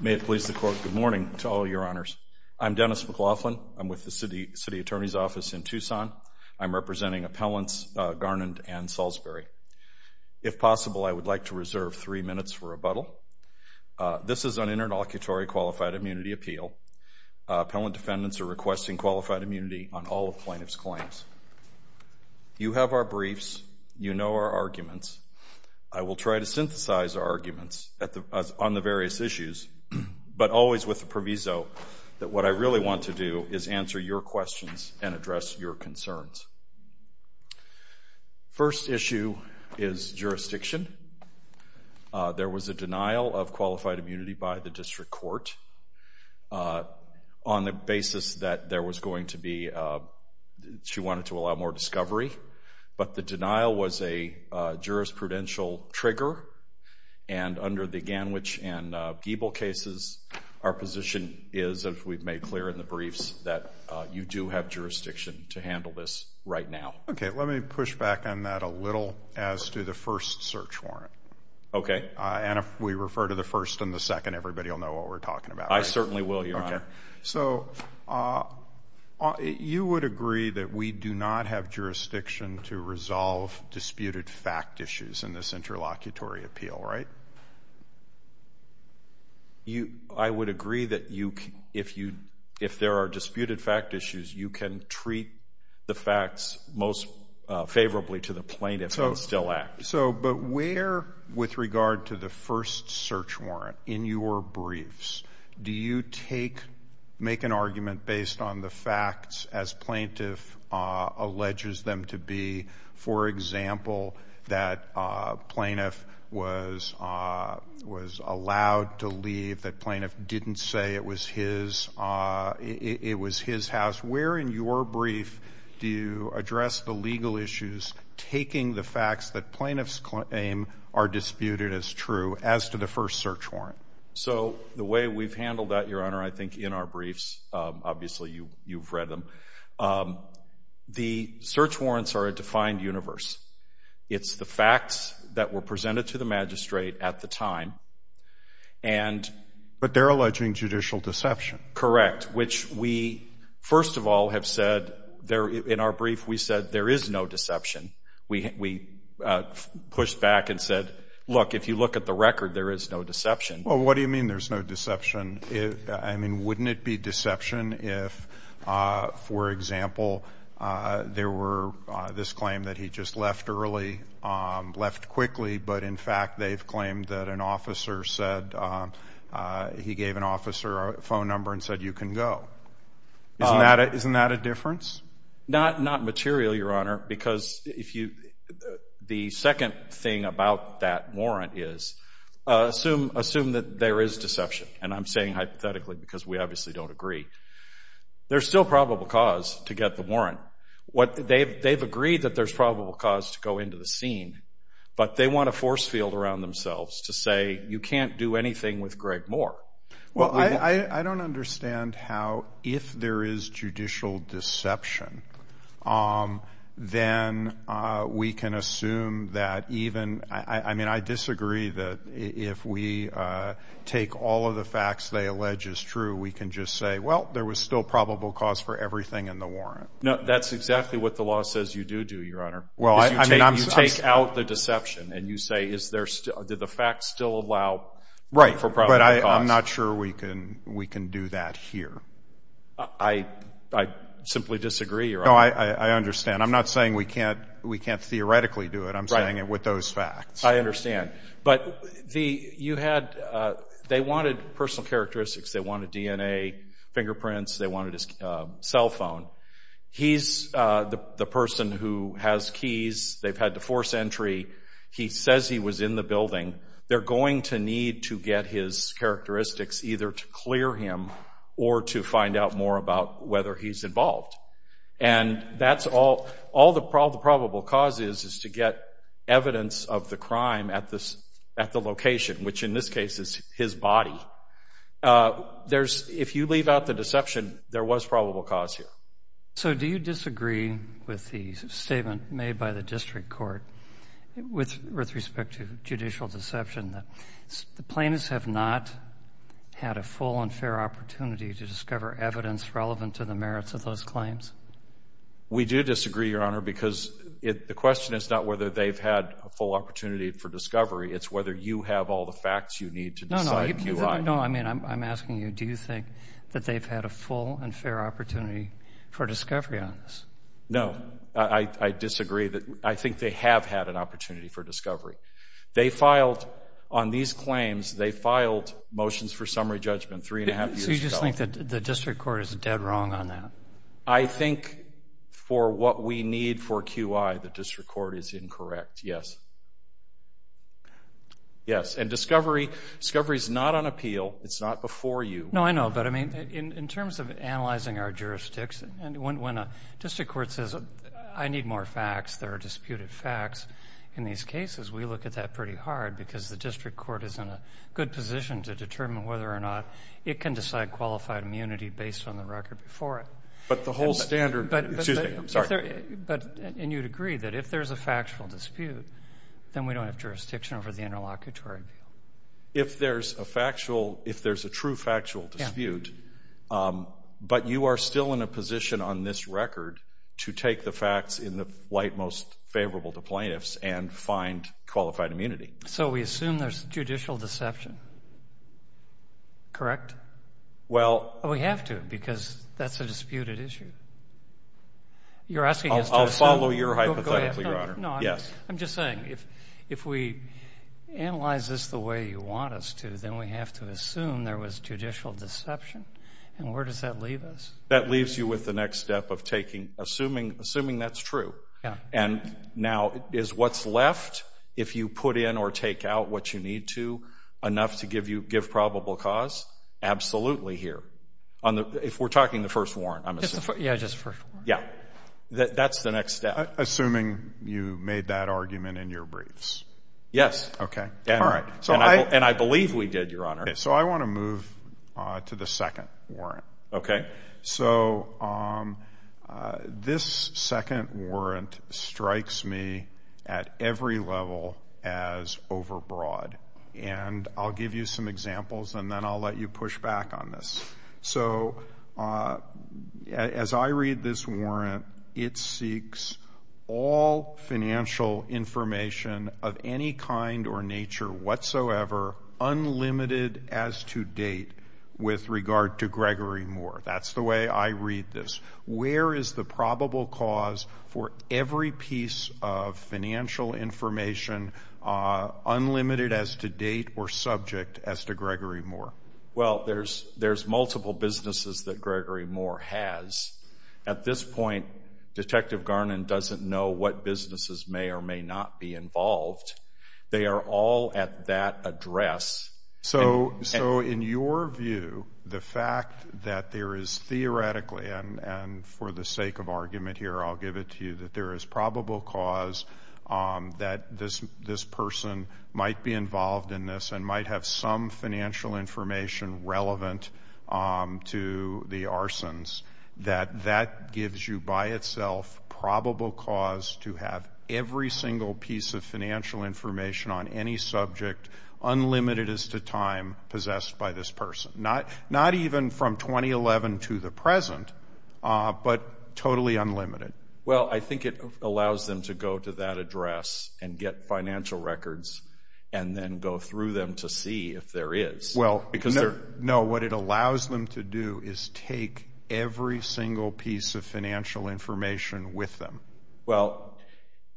May it please the court, good morning to all your honors. I'm Dennis McLaughlin. I'm with the city attorney's office in Tucson. I'm representing appellants Garnand and Salisbury. If possible, I would like to reserve three minutes for rebuttal. This is an interlocutory qualified immunity appeal. Appellant defendants are requesting qualified immunity on all of plaintiff's claims. You have our briefs. You know our arguments. I will try to synthesize our arguments on the various issues, but always with the proviso that what I really want to do is answer your questions and address your concerns. First issue is jurisdiction. There was a denial of qualified immunity by the district court on the basis that there was going to be, she wanted to allow more discovery, but the denial was a jurisprudential trigger. And under the Ganwich and Giebel cases, our position is, as we've made clear in the briefs, that you do have jurisdiction to handle this right now. Okay, let me push back on that a little as to the first search warrant. Okay. And if we refer to the first and the second, everybody will know what we're talking about. I certainly will, your honor. Okay. So you would agree that we do not have jurisdiction to resolve disputed fact issues in this interlocutory appeal, right? I would agree that if there are disputed fact issues, you can treat the facts most favorably to the plaintiff and still act. But where, with regard to the first search warrant, in your briefs, do you make an argument based on the facts as plaintiff alleges them to be? For example, that plaintiff was allowed to leave, that plaintiff didn't say it was his house. Where in your brief do you address the legal issues taking the facts that plaintiff's claim are disputed as true as to the first search warrant? So the way we've handled that, your honor, I think in our briefs, obviously you've read them, the search warrants are a defined universe. It's the facts that were presented to the magistrate at the time. But they're alleging judicial deception. Correct. Which we, first of all, have said in our brief, we said there is no deception. We pushed back and said, look, if you look at the record, there is no deception. Well, what do you mean there's no deception? I mean, wouldn't it be deception if, for example, there were this claim that he just left early, left quickly, but in fact they've claimed that an officer said he gave an officer a phone number and said you can go. Isn't that a difference? Not material, your honor, because the second thing about that warrant is assume that there is deception. And I'm saying hypothetically because we obviously don't agree. They've agreed that there's probable cause to go into the scene, but they want a force field around themselves to say you can't do anything with Greg Moore. Well, I don't understand how if there is judicial deception, then we can assume that even, I mean, I disagree that if we take all of the facts they allege is true, we can just say, well, there was still probable cause for everything in the warrant. No, that's exactly what the law says you do do, your honor. You take out the deception and you say, do the facts still allow for probable cause? Right, but I'm not sure we can do that here. I simply disagree, your honor. No, I understand. I'm not saying we can't theoretically do it. I'm saying with those facts. I understand. But you had, they wanted personal characteristics. They wanted DNA, fingerprints. They wanted his cell phone. He's the person who has keys. They've had to force entry. He says he was in the building. They're going to need to get his characteristics either to clear him or to find out more about whether he's involved. And that's all the probable cause is is to get evidence of the crime at the location, which in this case is his body. There's, if you leave out the deception, there was probable cause here. So do you disagree with the statement made by the district court with respect to judicial deception that the plaintiffs have not had a full and fair opportunity to discover evidence relevant to the merits of those claims? We do disagree, your honor, because the question is not whether they've had a full opportunity for discovery. It's whether you have all the facts you need to decide. No, I mean, I'm asking you, do you think that they've had a full and fair opportunity for discovery on this? No, I disagree. I think they have had an opportunity for discovery. They filed on these claims, they filed motions for summary judgment three and a half years ago. So you just think that the district court is dead wrong on that? I think for what we need for QI, the district court is incorrect, yes. Yes, and discovery is not on appeal. It's not before you. No, I know, but, I mean, in terms of analyzing our jurisdicts, And when a district court says, I need more facts, there are disputed facts, in these cases we look at that pretty hard because the district court is in a good position to determine whether or not it can decide qualified immunity based on the record before it. But the whole standard, excuse me, I'm sorry. And you'd agree that if there's a factual dispute, then we don't have jurisdiction over the interlocutory view. If there's a factual, if there's a true factual dispute, but you are still in a position on this record to take the facts in the light most favorable to plaintiffs and find qualified immunity. So we assume there's judicial deception, correct? Well. We have to because that's a disputed issue. You're asking us to assume? No, I'm just saying, if we analyze this the way you want us to, then we have to assume there was judicial deception, and where does that leave us? That leaves you with the next step of taking, assuming that's true. And now is what's left, if you put in or take out what you need to, enough to give probable cause? Absolutely here. If we're talking the first warrant, I'm assuming. Yeah, just the first warrant. Yeah, that's the next step. Assuming you made that argument in your briefs. Yes. Okay, all right. And I believe we did, Your Honor. So I want to move to the second warrant. Okay. So this second warrant strikes me at every level as overbroad. And I'll give you some examples, and then I'll let you push back on this. So as I read this warrant, it seeks all financial information of any kind or nature whatsoever, unlimited as to date, with regard to Gregory Moore. That's the way I read this. Where is the probable cause for every piece of financial information unlimited as to date or subject as to Gregory Moore? Well, there's multiple businesses that Gregory Moore has. At this point, Detective Garnon doesn't know what businesses may or may not be involved. They are all at that address. So in your view, the fact that there is theoretically, and for the sake of argument here, I'll give it to you, that there is probable cause that this person might be involved in this and might have some financial information relevant to the arsons, that that gives you by itself probable cause to have every single piece of financial information on any subject, unlimited as to time, possessed by this person. Not even from 2011 to the present, but totally unlimited. Well, I think it allows them to go to that address and get financial records and then go through them to see if there is. Well, no, what it allows them to do is take every single piece of financial information with them. Well,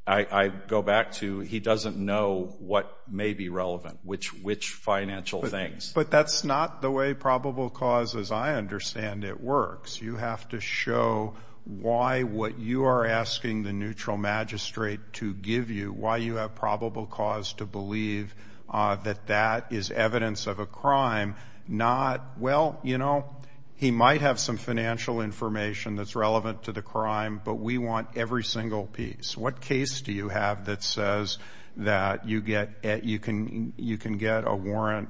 I go back to he doesn't know what may be relevant, which financial things. But that's not the way probable cause, as I understand it, works. You have to show why what you are asking the neutral magistrate to give you, why you have probable cause to believe that that is evidence of a crime, not, well, you know, he might have some financial information that's relevant to the crime, but we want every single piece. What case do you have that says that you can get a warrant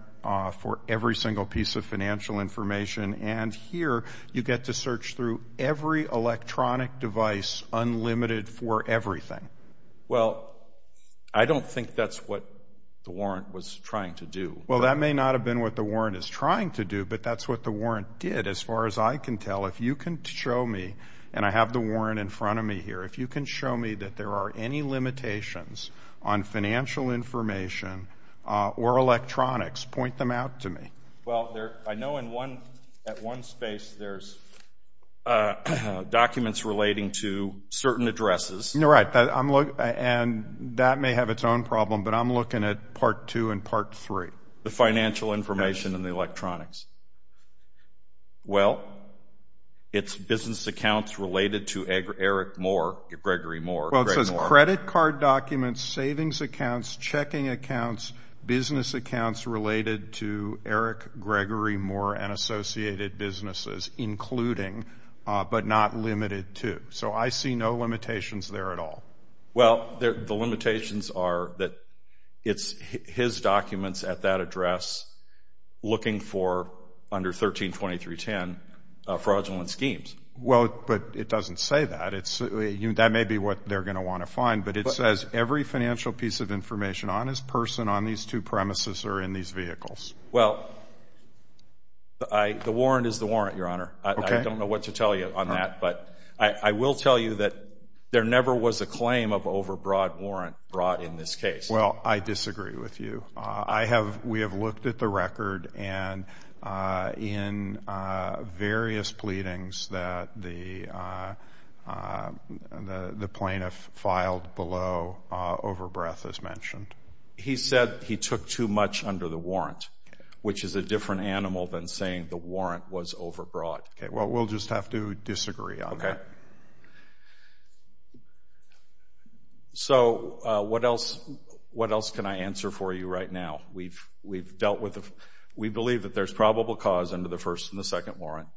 for every single piece of financial information? And here you get to search through every electronic device unlimited for everything. Well, I don't think that's what the warrant was trying to do. Well, that may not have been what the warrant is trying to do, but that's what the warrant did. As far as I can tell, if you can show me, and I have the warrant in front of me here, if you can show me that there are any limitations on financial information or electronics, point them out to me. Well, I know at one space there's documents relating to certain addresses. You're right, and that may have its own problem, but I'm looking at Part 2 and Part 3. The financial information and the electronics. Well, it's business accounts related to Eric Moore, Gregory Moore. Well, it says credit card documents, savings accounts, checking accounts, business accounts related to Eric Gregory Moore and associated businesses, including, but not limited to. So I see no limitations there at all. Well, the limitations are that it's his documents at that address looking for, under 132310, fraudulent schemes. Well, but it doesn't say that. That may be what they're going to want to find, but it says every financial piece of information on his person on these two premises or in these vehicles. Well, the warrant is the warrant, Your Honor. I don't know what to tell you on that, but I will tell you that there never was a claim of overbroad warrant brought in this case. Well, I disagree with you. We have looked at the record and in various pleadings that the plaintiff filed below overbreadth, as mentioned. He said he took too much under the warrant, which is a different animal than saying the warrant was overbroad. Okay, well, we'll just have to disagree on that. Okay. So what else can I answer for you right now? We believe that there's probable cause under the first and the second warrant.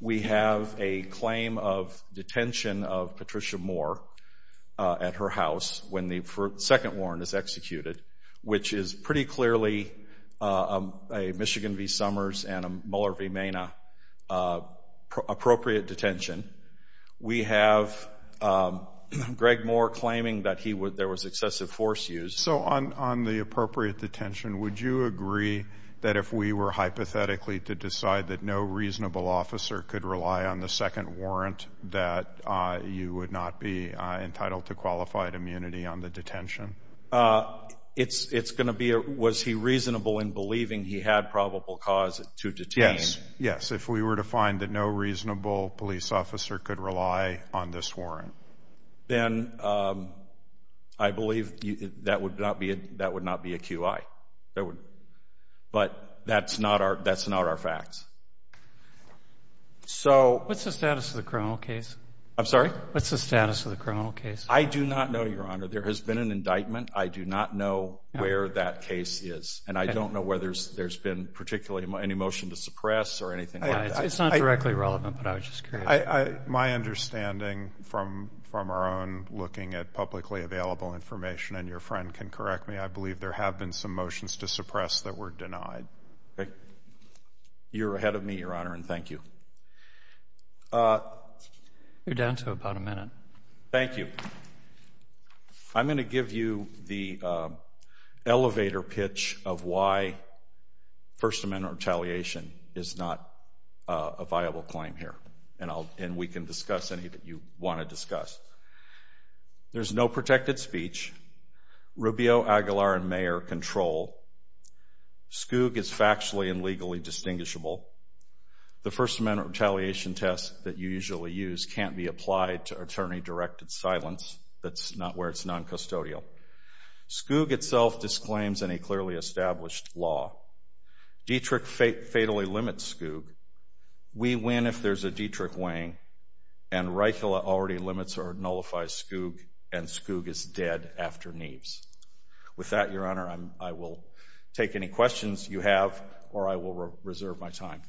We have a claim of detention of Patricia Moore at her house when the second warrant is executed, which is pretty clearly a Michigan v. Summers and a Mueller v. Mena appropriate detention. We have Greg Moore claiming that there was excessive force used. So on the appropriate detention, would you agree that if we were hypothetically to decide that no reasonable officer could rely on the second warrant, that you would not be entitled to qualified immunity on the detention? Was he reasonable in believing he had probable cause to detain? Yes. Yes, if we were to find that no reasonable police officer could rely on this warrant. Then I believe that would not be a QI. But that's not our facts. What's the status of the criminal case? I'm sorry? What's the status of the criminal case? I do not know, Your Honor. There has been an indictment. I do not know where that case is. And I don't know whether there's been particularly any motion to suppress or anything like that. It's not directly relevant, but I was just curious. My understanding from our own looking at publicly available information, and your friend can correct me, I believe there have been some motions to suppress that were denied. You're ahead of me, Your Honor, and thank you. You're down to about a minute. Thank you. I'm going to give you the elevator pitch of why First Amendment retaliation is not a viable claim here, and we can discuss any that you want to discuss. There's no protected speech. Rubio, Aguilar, and Mayer control. Skoog is factually and legally distinguishable. The First Amendment retaliation test that you usually use can't be applied to attorney-directed silence. That's not where it's noncustodial. Skoog itself disclaims in a clearly established law. Dietrich fatally limits Skoog. We win if there's a Dietrich weighing, and Reichla already limits or nullifies Skoog, and Skoog is dead after Neves. With that, Your Honor, I will take any questions you have, or I will reserve my time.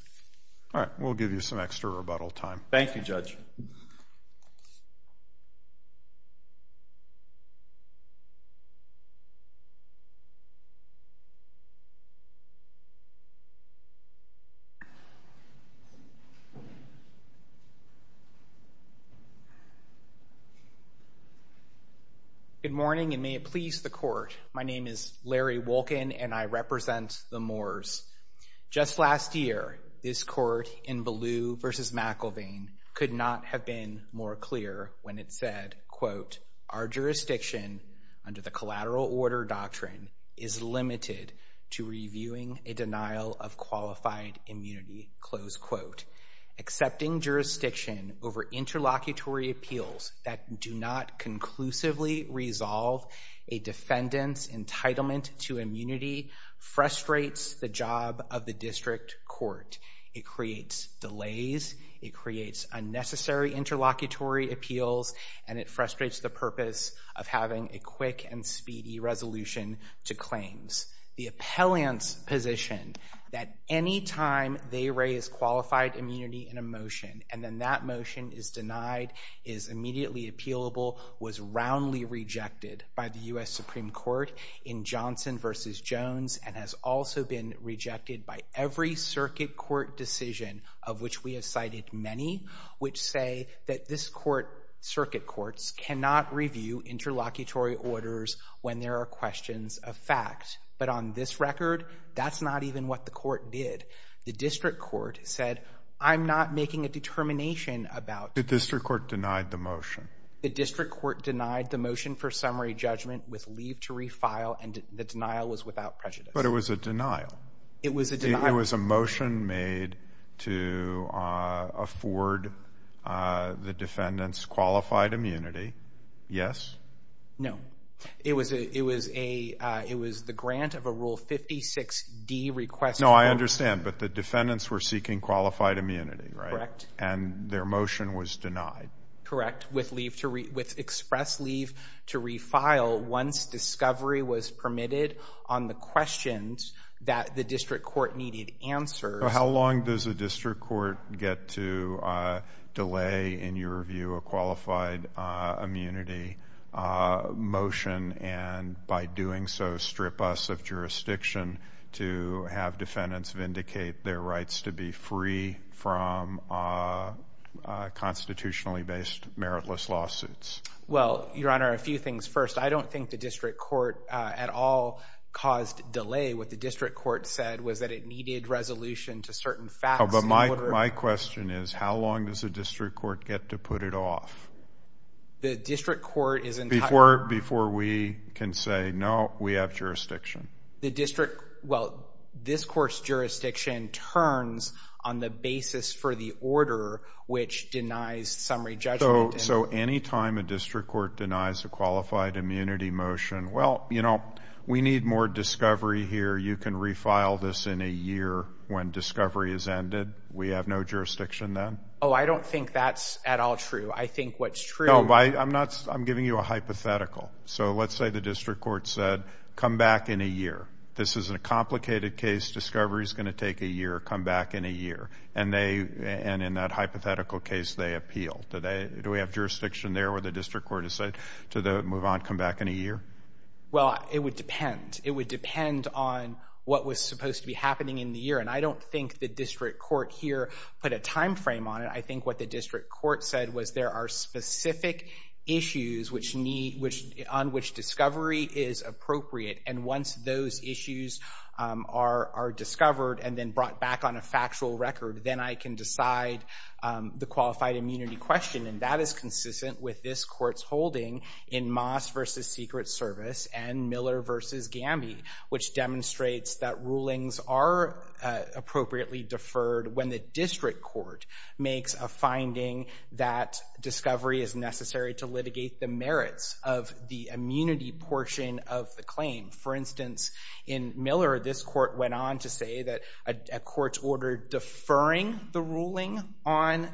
All right. We'll give you some extra rebuttal time. Thank you, Judge. Thank you, Judge. Good morning, and may it please the Court, my name is Larry Wolkin, and I represent the Moores. Just last year, this Court in Ballou v. McIlvain could not have been more clear when it said, quote, our jurisdiction under the collateral order doctrine is limited to reviewing a denial of qualified immunity, close quote. Accepting jurisdiction over interlocutory appeals that do not conclusively resolve a defendant's entitlement to immunity frustrates the job of the district court. It creates delays, it creates unnecessary interlocutory appeals, and it frustrates the purpose of having a quick and speedy resolution to claims. The appellant's position that any time they raise qualified immunity in a motion and then that motion is denied, is immediately appealable, was roundly rejected by the U.S. Supreme Court in Johnson v. Jones and has also been rejected by every circuit court decision of which we have cited many, which say that this court, circuit courts, cannot review interlocutory orders when there are questions of fact. But on this record, that's not even what the court did. The district court said, I'm not making a determination about The district court denied the motion. The district court denied the motion for summary judgment with leave to refile, and the denial was without prejudice. But it was a denial. It was a denial. It was a motion made to afford the defendants qualified immunity. Yes? No. It was the grant of a Rule 56D request. No, I understand, but the defendants were seeking qualified immunity, right? Correct. And their motion was denied. Correct. With express leave to refile once discovery was permitted on the questions that the district court needed answers. How long does the district court get to delay, in your view, a qualified immunity motion, and by doing so strip us of jurisdiction to have defendants vindicate their rights to be free from constitutionally based, meritless lawsuits? Well, Your Honor, a few things. First, I don't think the district court at all caused delay. What the district court said was that it needed resolution to certain facts. But my question is, how long does the district court get to put it off? The district court is entitled. Before we can say, no, we have jurisdiction. The district, well, this court's jurisdiction turns on the basis for the order which denies summary judgment. So any time a district court denies a qualified immunity motion, well, you know, we need more discovery here. You can refile this in a year when discovery is ended. We have no jurisdiction then? Oh, I don't think that's at all true. I think what's true. I'm giving you a hypothetical. So let's say the district court said, come back in a year. This is a complicated case. Discovery's going to take a year. Come back in a year. And in that hypothetical case, they appeal. Do we have jurisdiction there where the district court has said to move on, come back in a year? Well, it would depend. It would depend on what was supposed to be happening in the year. And I don't think the district court here put a time frame on it. I think what the district court said was there are specific issues on which discovery is appropriate. And once those issues are discovered and then brought back on a factual record, then I can decide the qualified immunity question. And that is consistent with this court's holding in Moss v. Secret Service and Miller v. Gamby, which demonstrates that rulings are appropriately deferred when the district court makes a finding that discovery is necessary to litigate the merits of the immunity portion of the claim. For instance, in Miller, this court went on to say that a court's order deferring the ruling on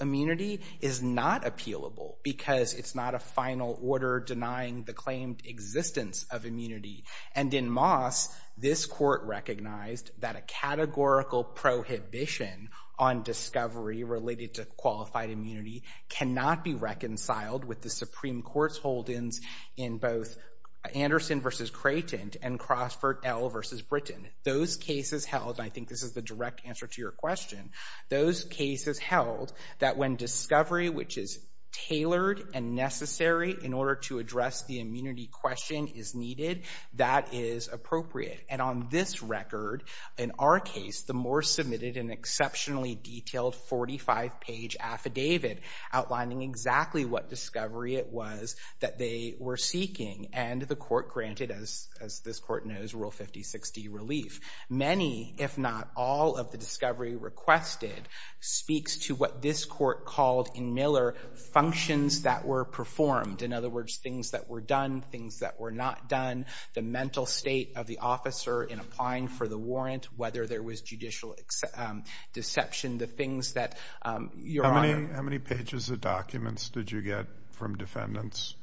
immunity is not appealable because it's not a final order denying the claimed existence of immunity. And in Moss, this court recognized that a categorical prohibition on discovery related to qualified immunity cannot be reconciled with the Supreme Court's holdings in both Anderson v. Creighton and Crossford L. v. Britton. Those cases held, and I think this is the direct answer to your question, those cases held that when discovery, which is tailored and necessary in order to address the immunity question, is needed, that is appropriate. And on this record, in our case, the Morse submitted an exceptionally detailed 45-page affidavit outlining exactly what discovery it was that they were seeking. And the court granted, as this court knows, Rule 5060 relief. Many, if not all, of the discovery requested speaks to what this court called in Miller functions that were performed. In other words, things that were done, things that were not done, the mental state of the officer in applying for the warrant, whether there was judicial deception, the things that your Honor— How many pages of documents did you get from defendants?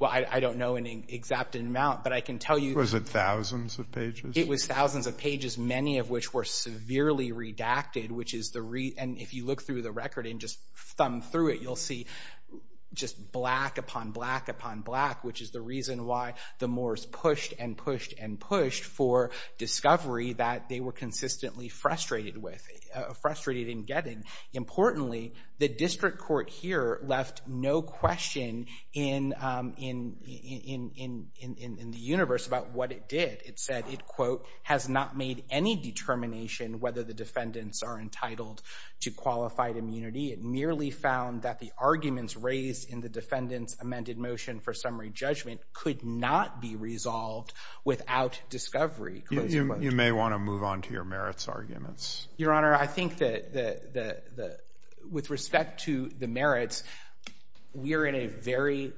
Well, I don't know an exact amount, but I can tell you— Was it thousands of pages? It was thousands of pages, many of which were severely redacted, which is the— which is the reason why the Morse pushed and pushed and pushed for discovery that they were consistently frustrated with, frustrated in getting. Importantly, the district court here left no question in the universe about what it did. It said it, quote, has not made any determination whether the defendants are entitled to qualified immunity. It merely found that the arguments raised in the defendant's amended motion for summary judgment could not be resolved without discovery. You may want to move on to your merits arguments. Your Honor, I think that the—with respect to the merits, we are in a very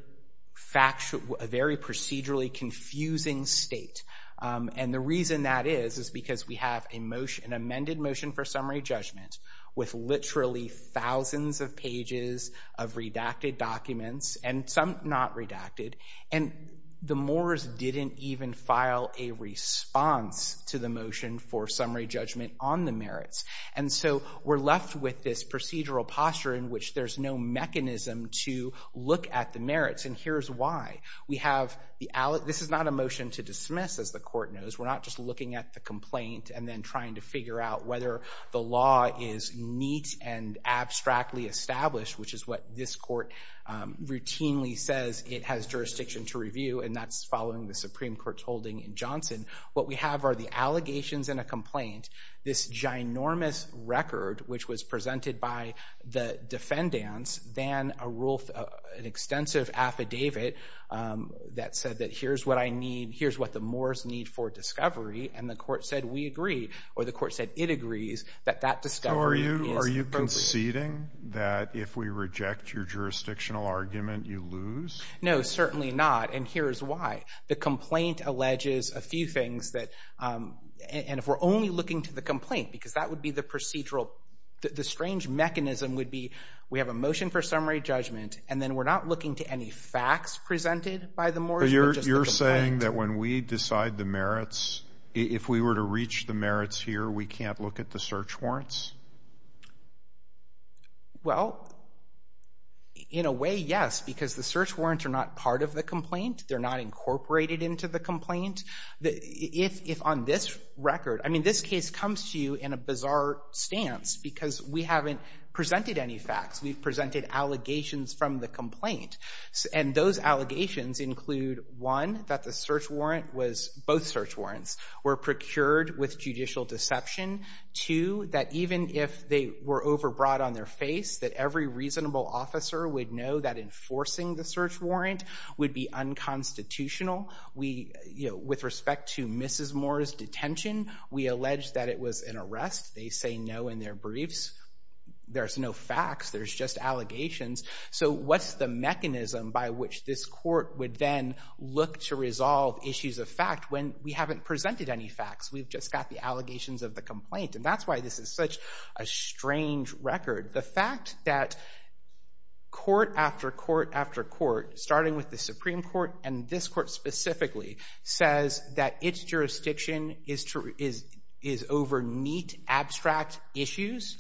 fact—a very procedurally confusing state. And the reason that is is because we have a motion, an amended motion for summary judgment, with literally thousands of pages of redacted documents, and some not redacted, and the Morse didn't even file a response to the motion for summary judgment on the merits. And so we're left with this procedural posture in which there's no mechanism to look at the merits, and here's why. We have the—this is not a motion to dismiss, as the court knows. We're not just looking at the complaint and then trying to figure out whether the law is neat and abstractly established, which is what this court routinely says it has jurisdiction to review, and that's following the Supreme Court's holding in Johnson. What we have are the allegations in a complaint, this ginormous record which was presented by the defendants, then an extensive affidavit that said that here's what I need, here's what the Morse need for discovery, and the court said we agree, or the court said it agrees that that discovery is appropriate. So are you conceding that if we reject your jurisdictional argument, you lose? No, certainly not, and here's why. The complaint alleges a few things that—and if we're only looking to the complaint, because that would be the procedural— we have a motion for summary judgment, and then we're not looking to any facts presented by the Morse. You're saying that when we decide the merits, if we were to reach the merits here, we can't look at the search warrants? Well, in a way, yes, because the search warrants are not part of the complaint. They're not incorporated into the complaint. If on this record—I mean, this case comes to you in a bizarre stance because we haven't presented any facts. We've presented allegations from the complaint, and those allegations include, one, that the search warrant was— both search warrants were procured with judicial deception, two, that even if they were overbrought on their face, that every reasonable officer would know that enforcing the search warrant would be unconstitutional. With respect to Mrs. Moore's detention, we allege that it was an arrest. They say no in their briefs. There's no facts. There's just allegations. So what's the mechanism by which this court would then look to resolve issues of fact when we haven't presented any facts? We've just got the allegations of the complaint, and that's why this is such a strange record. The fact that court after court after court, starting with the Supreme Court and this court specifically, says that its jurisdiction is over neat, abstract issues,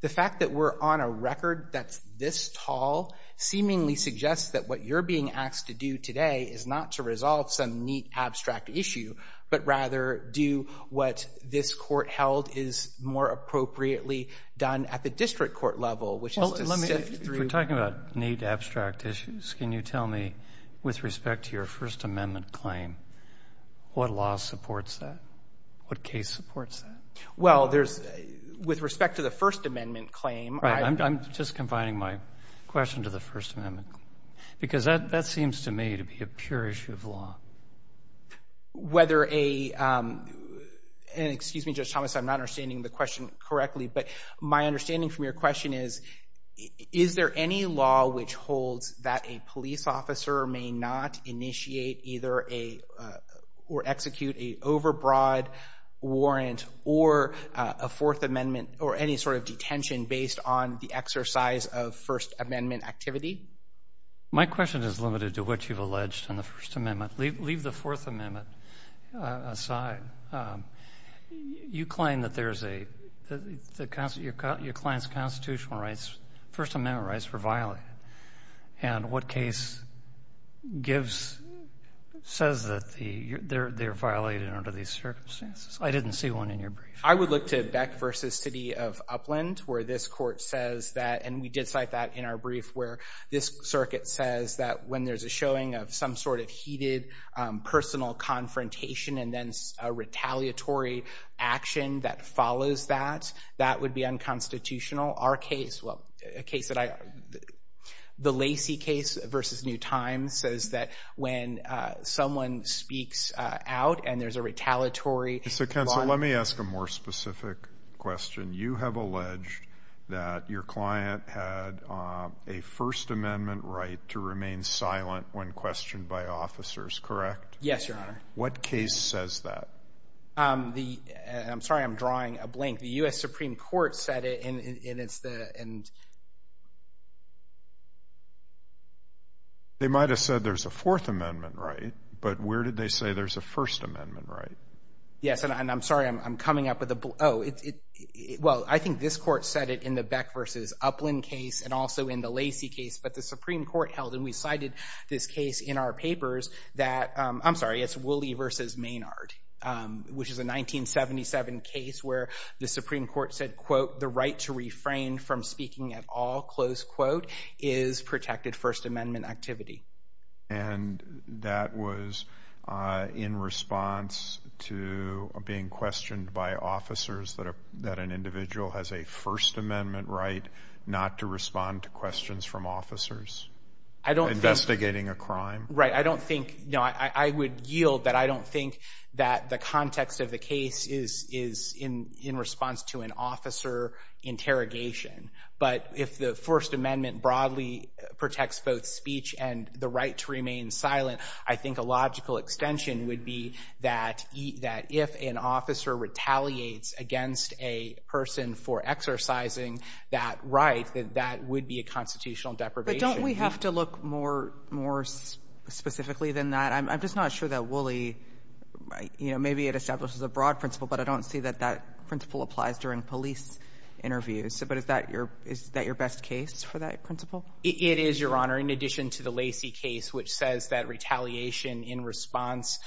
the fact that we're on a record that's this tall seemingly suggests that what you're being asked to do today is not to resolve some neat, abstract issue but rather do what this court held is more appropriately done at the district court level, which is to sift through— If we're talking about neat, abstract issues, can you tell me, with respect to your First Amendment claim, what law supports that? What case supports that? Well, there's—with respect to the First Amendment claim— Right. I'm just confining my question to the First Amendment, because that seems to me to be a pure issue of law. Whether a—and excuse me, Judge Thomas, I'm not understanding the question correctly, but my understanding from your question is, is there any law which holds that a police officer may not initiate either a—or execute a overbroad warrant or a Fourth Amendment or any sort of detention based on the exercise of First Amendment activity? My question is limited to what you've alleged in the First Amendment. Leave the Fourth Amendment aside. You claim that there's a—your client's constitutional rights, First Amendment rights, were violated. And what case gives—says that they're violated under these circumstances? I didn't see one in your brief. I would look to Beck v. City of Upland, where this court says that— this circuit says that when there's a showing of some sort of heated personal confrontation and then a retaliatory action that follows that, that would be unconstitutional. Our case—well, a case that I—the Lacey case v. New Times says that when someone speaks out and there's a retaliatory— Mr. Kensal, let me ask a more specific question. You have alleged that your client had a First Amendment right to remain silent when questioned by officers, correct? Yes, Your Honor. What case says that? The—I'm sorry, I'm drawing a blink. The U.S. Supreme Court said it, and it's the—and— They might have said there's a Fourth Amendment right, but where did they say there's a First Amendment right? Yes, and I'm sorry, I'm coming up with a—oh. Well, I think this court said it in the Beck v. Upland case and also in the Lacey case, but the Supreme Court held, and we cited this case in our papers, that— I'm sorry, it's Woolley v. Maynard, which is a 1977 case where the Supreme Court said, quote, the right to refrain from speaking at all, close quote, is protected First Amendment activity. And that was in response to being questioned by officers that an individual has a First Amendment right not to respond to questions from officers? I don't think— Investigating a crime? Right, I don't think—no, I would yield that I don't think that the context of the case is in response to an officer interrogation, but if the First Amendment broadly protects both speech and the right to remain silent, I think a logical extension would be that if an officer retaliates against a person for exercising that right, that that would be a constitutional deprivation. But don't we have to look more specifically than that? I'm just not sure that Woolley—you know, maybe it establishes a broad principle, but I don't see that that principle applies during police interviews. But is that your best case for that principle? It is, Your Honor, in addition to the Lacey case, which says that retaliation in response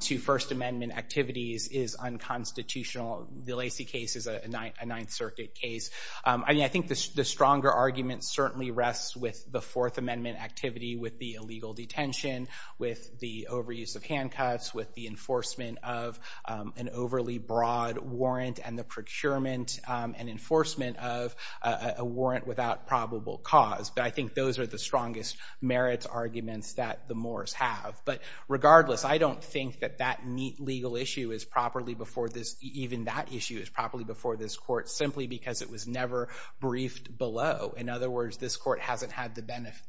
to First Amendment activities is unconstitutional. The Lacey case is a Ninth Circuit case. I mean, I think the stronger argument certainly rests with the Fourth Amendment activity with the illegal detention, with the overuse of handcuffs, with the enforcement of an overly broad warrant and the procurement and enforcement of a warrant without probable cause. But I think those are the strongest merits arguments that the Moores have. But regardless, I don't think that that legal issue is properly before this— even that issue is properly before this Court simply because it was never briefed below. In other words, this Court hasn't had the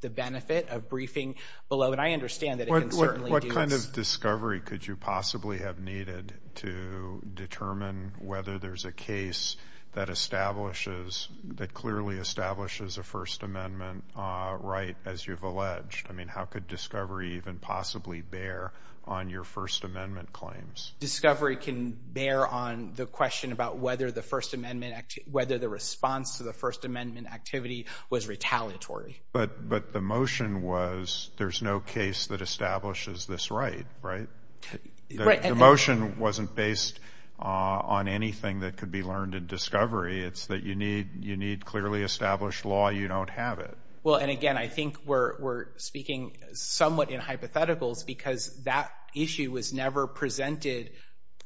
benefit of briefing below, and I understand that it can certainly do this. How much discovery could you possibly have needed to determine whether there's a case that establishes—that clearly establishes a First Amendment right, as you've alleged? I mean, how could discovery even possibly bear on your First Amendment claims? Discovery can bear on the question about whether the First Amendment— whether the response to the First Amendment activity was retaliatory. But the motion was there's no case that establishes this right, right? The motion wasn't based on anything that could be learned in discovery. It's that you need clearly established law. You don't have it. Well, and again, I think we're speaking somewhat in hypotheticals because that issue was never presented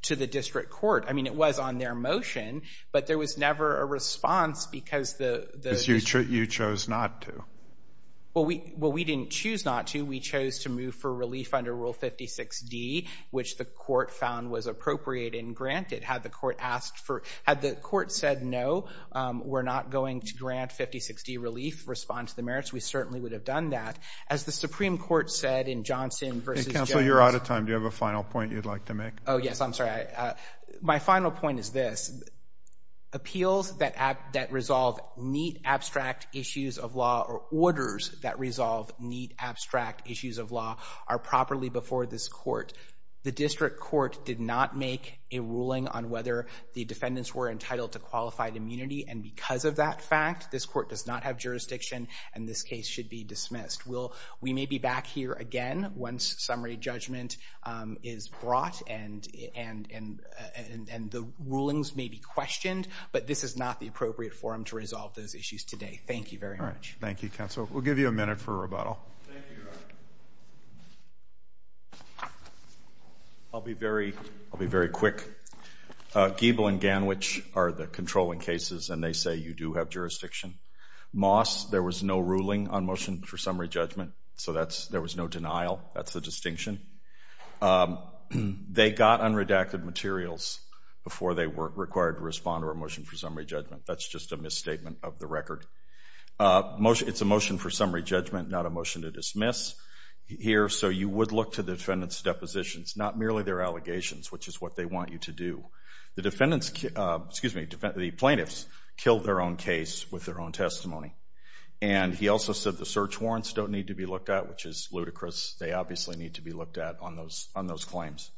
to the district court. I mean, it was on their motion, but there was never a response because the— Well, we didn't choose not to. We chose to move for relief under Rule 56D, which the court found was appropriate and granted. Had the court asked for—had the court said no, we're not going to grant 56D relief, respond to the merits, we certainly would have done that. As the Supreme Court said in Johnson v. Jones— Counsel, you're out of time. Do you have a final point you'd like to make? Oh, yes. I'm sorry. My final point is this. Appeals that resolve neat, abstract issues of law or orders that resolve neat, abstract issues of law are properly before this court. The district court did not make a ruling on whether the defendants were entitled to qualified immunity, and because of that fact, this court does not have jurisdiction and this case should be dismissed. We may be back here again once summary judgment is brought and the rulings may be questioned, but this is not the appropriate forum to resolve those issues today. Thank you very much. All right. Thank you, Counsel. We'll give you a minute for rebuttal. Thank you, Your Honor. I'll be very quick. Giebel and Ganwich are the controlling cases, and they say you do have jurisdiction. Moss, there was no ruling on motion for summary judgment, so there was no denial. That's the distinction. They got unredacted materials before they were required to respond to a motion for summary judgment. That's just a misstatement of the record. It's a motion for summary judgment, not a motion to dismiss here, so you would look to the defendant's depositions, not merely their allegations, which is what they want you to do. The plaintiffs killed their own case with their own testimony, and he also said the search warrants don't need to be looked at, which is ludicrous. They obviously need to be looked at on those claims.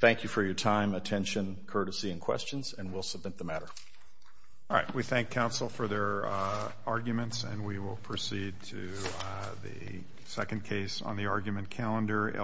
Thank you for your time, attention, courtesy, and questions, and we'll submit the matter. All right. We thank Counsel for their arguments, and we will proceed to the second case on the argument calendar.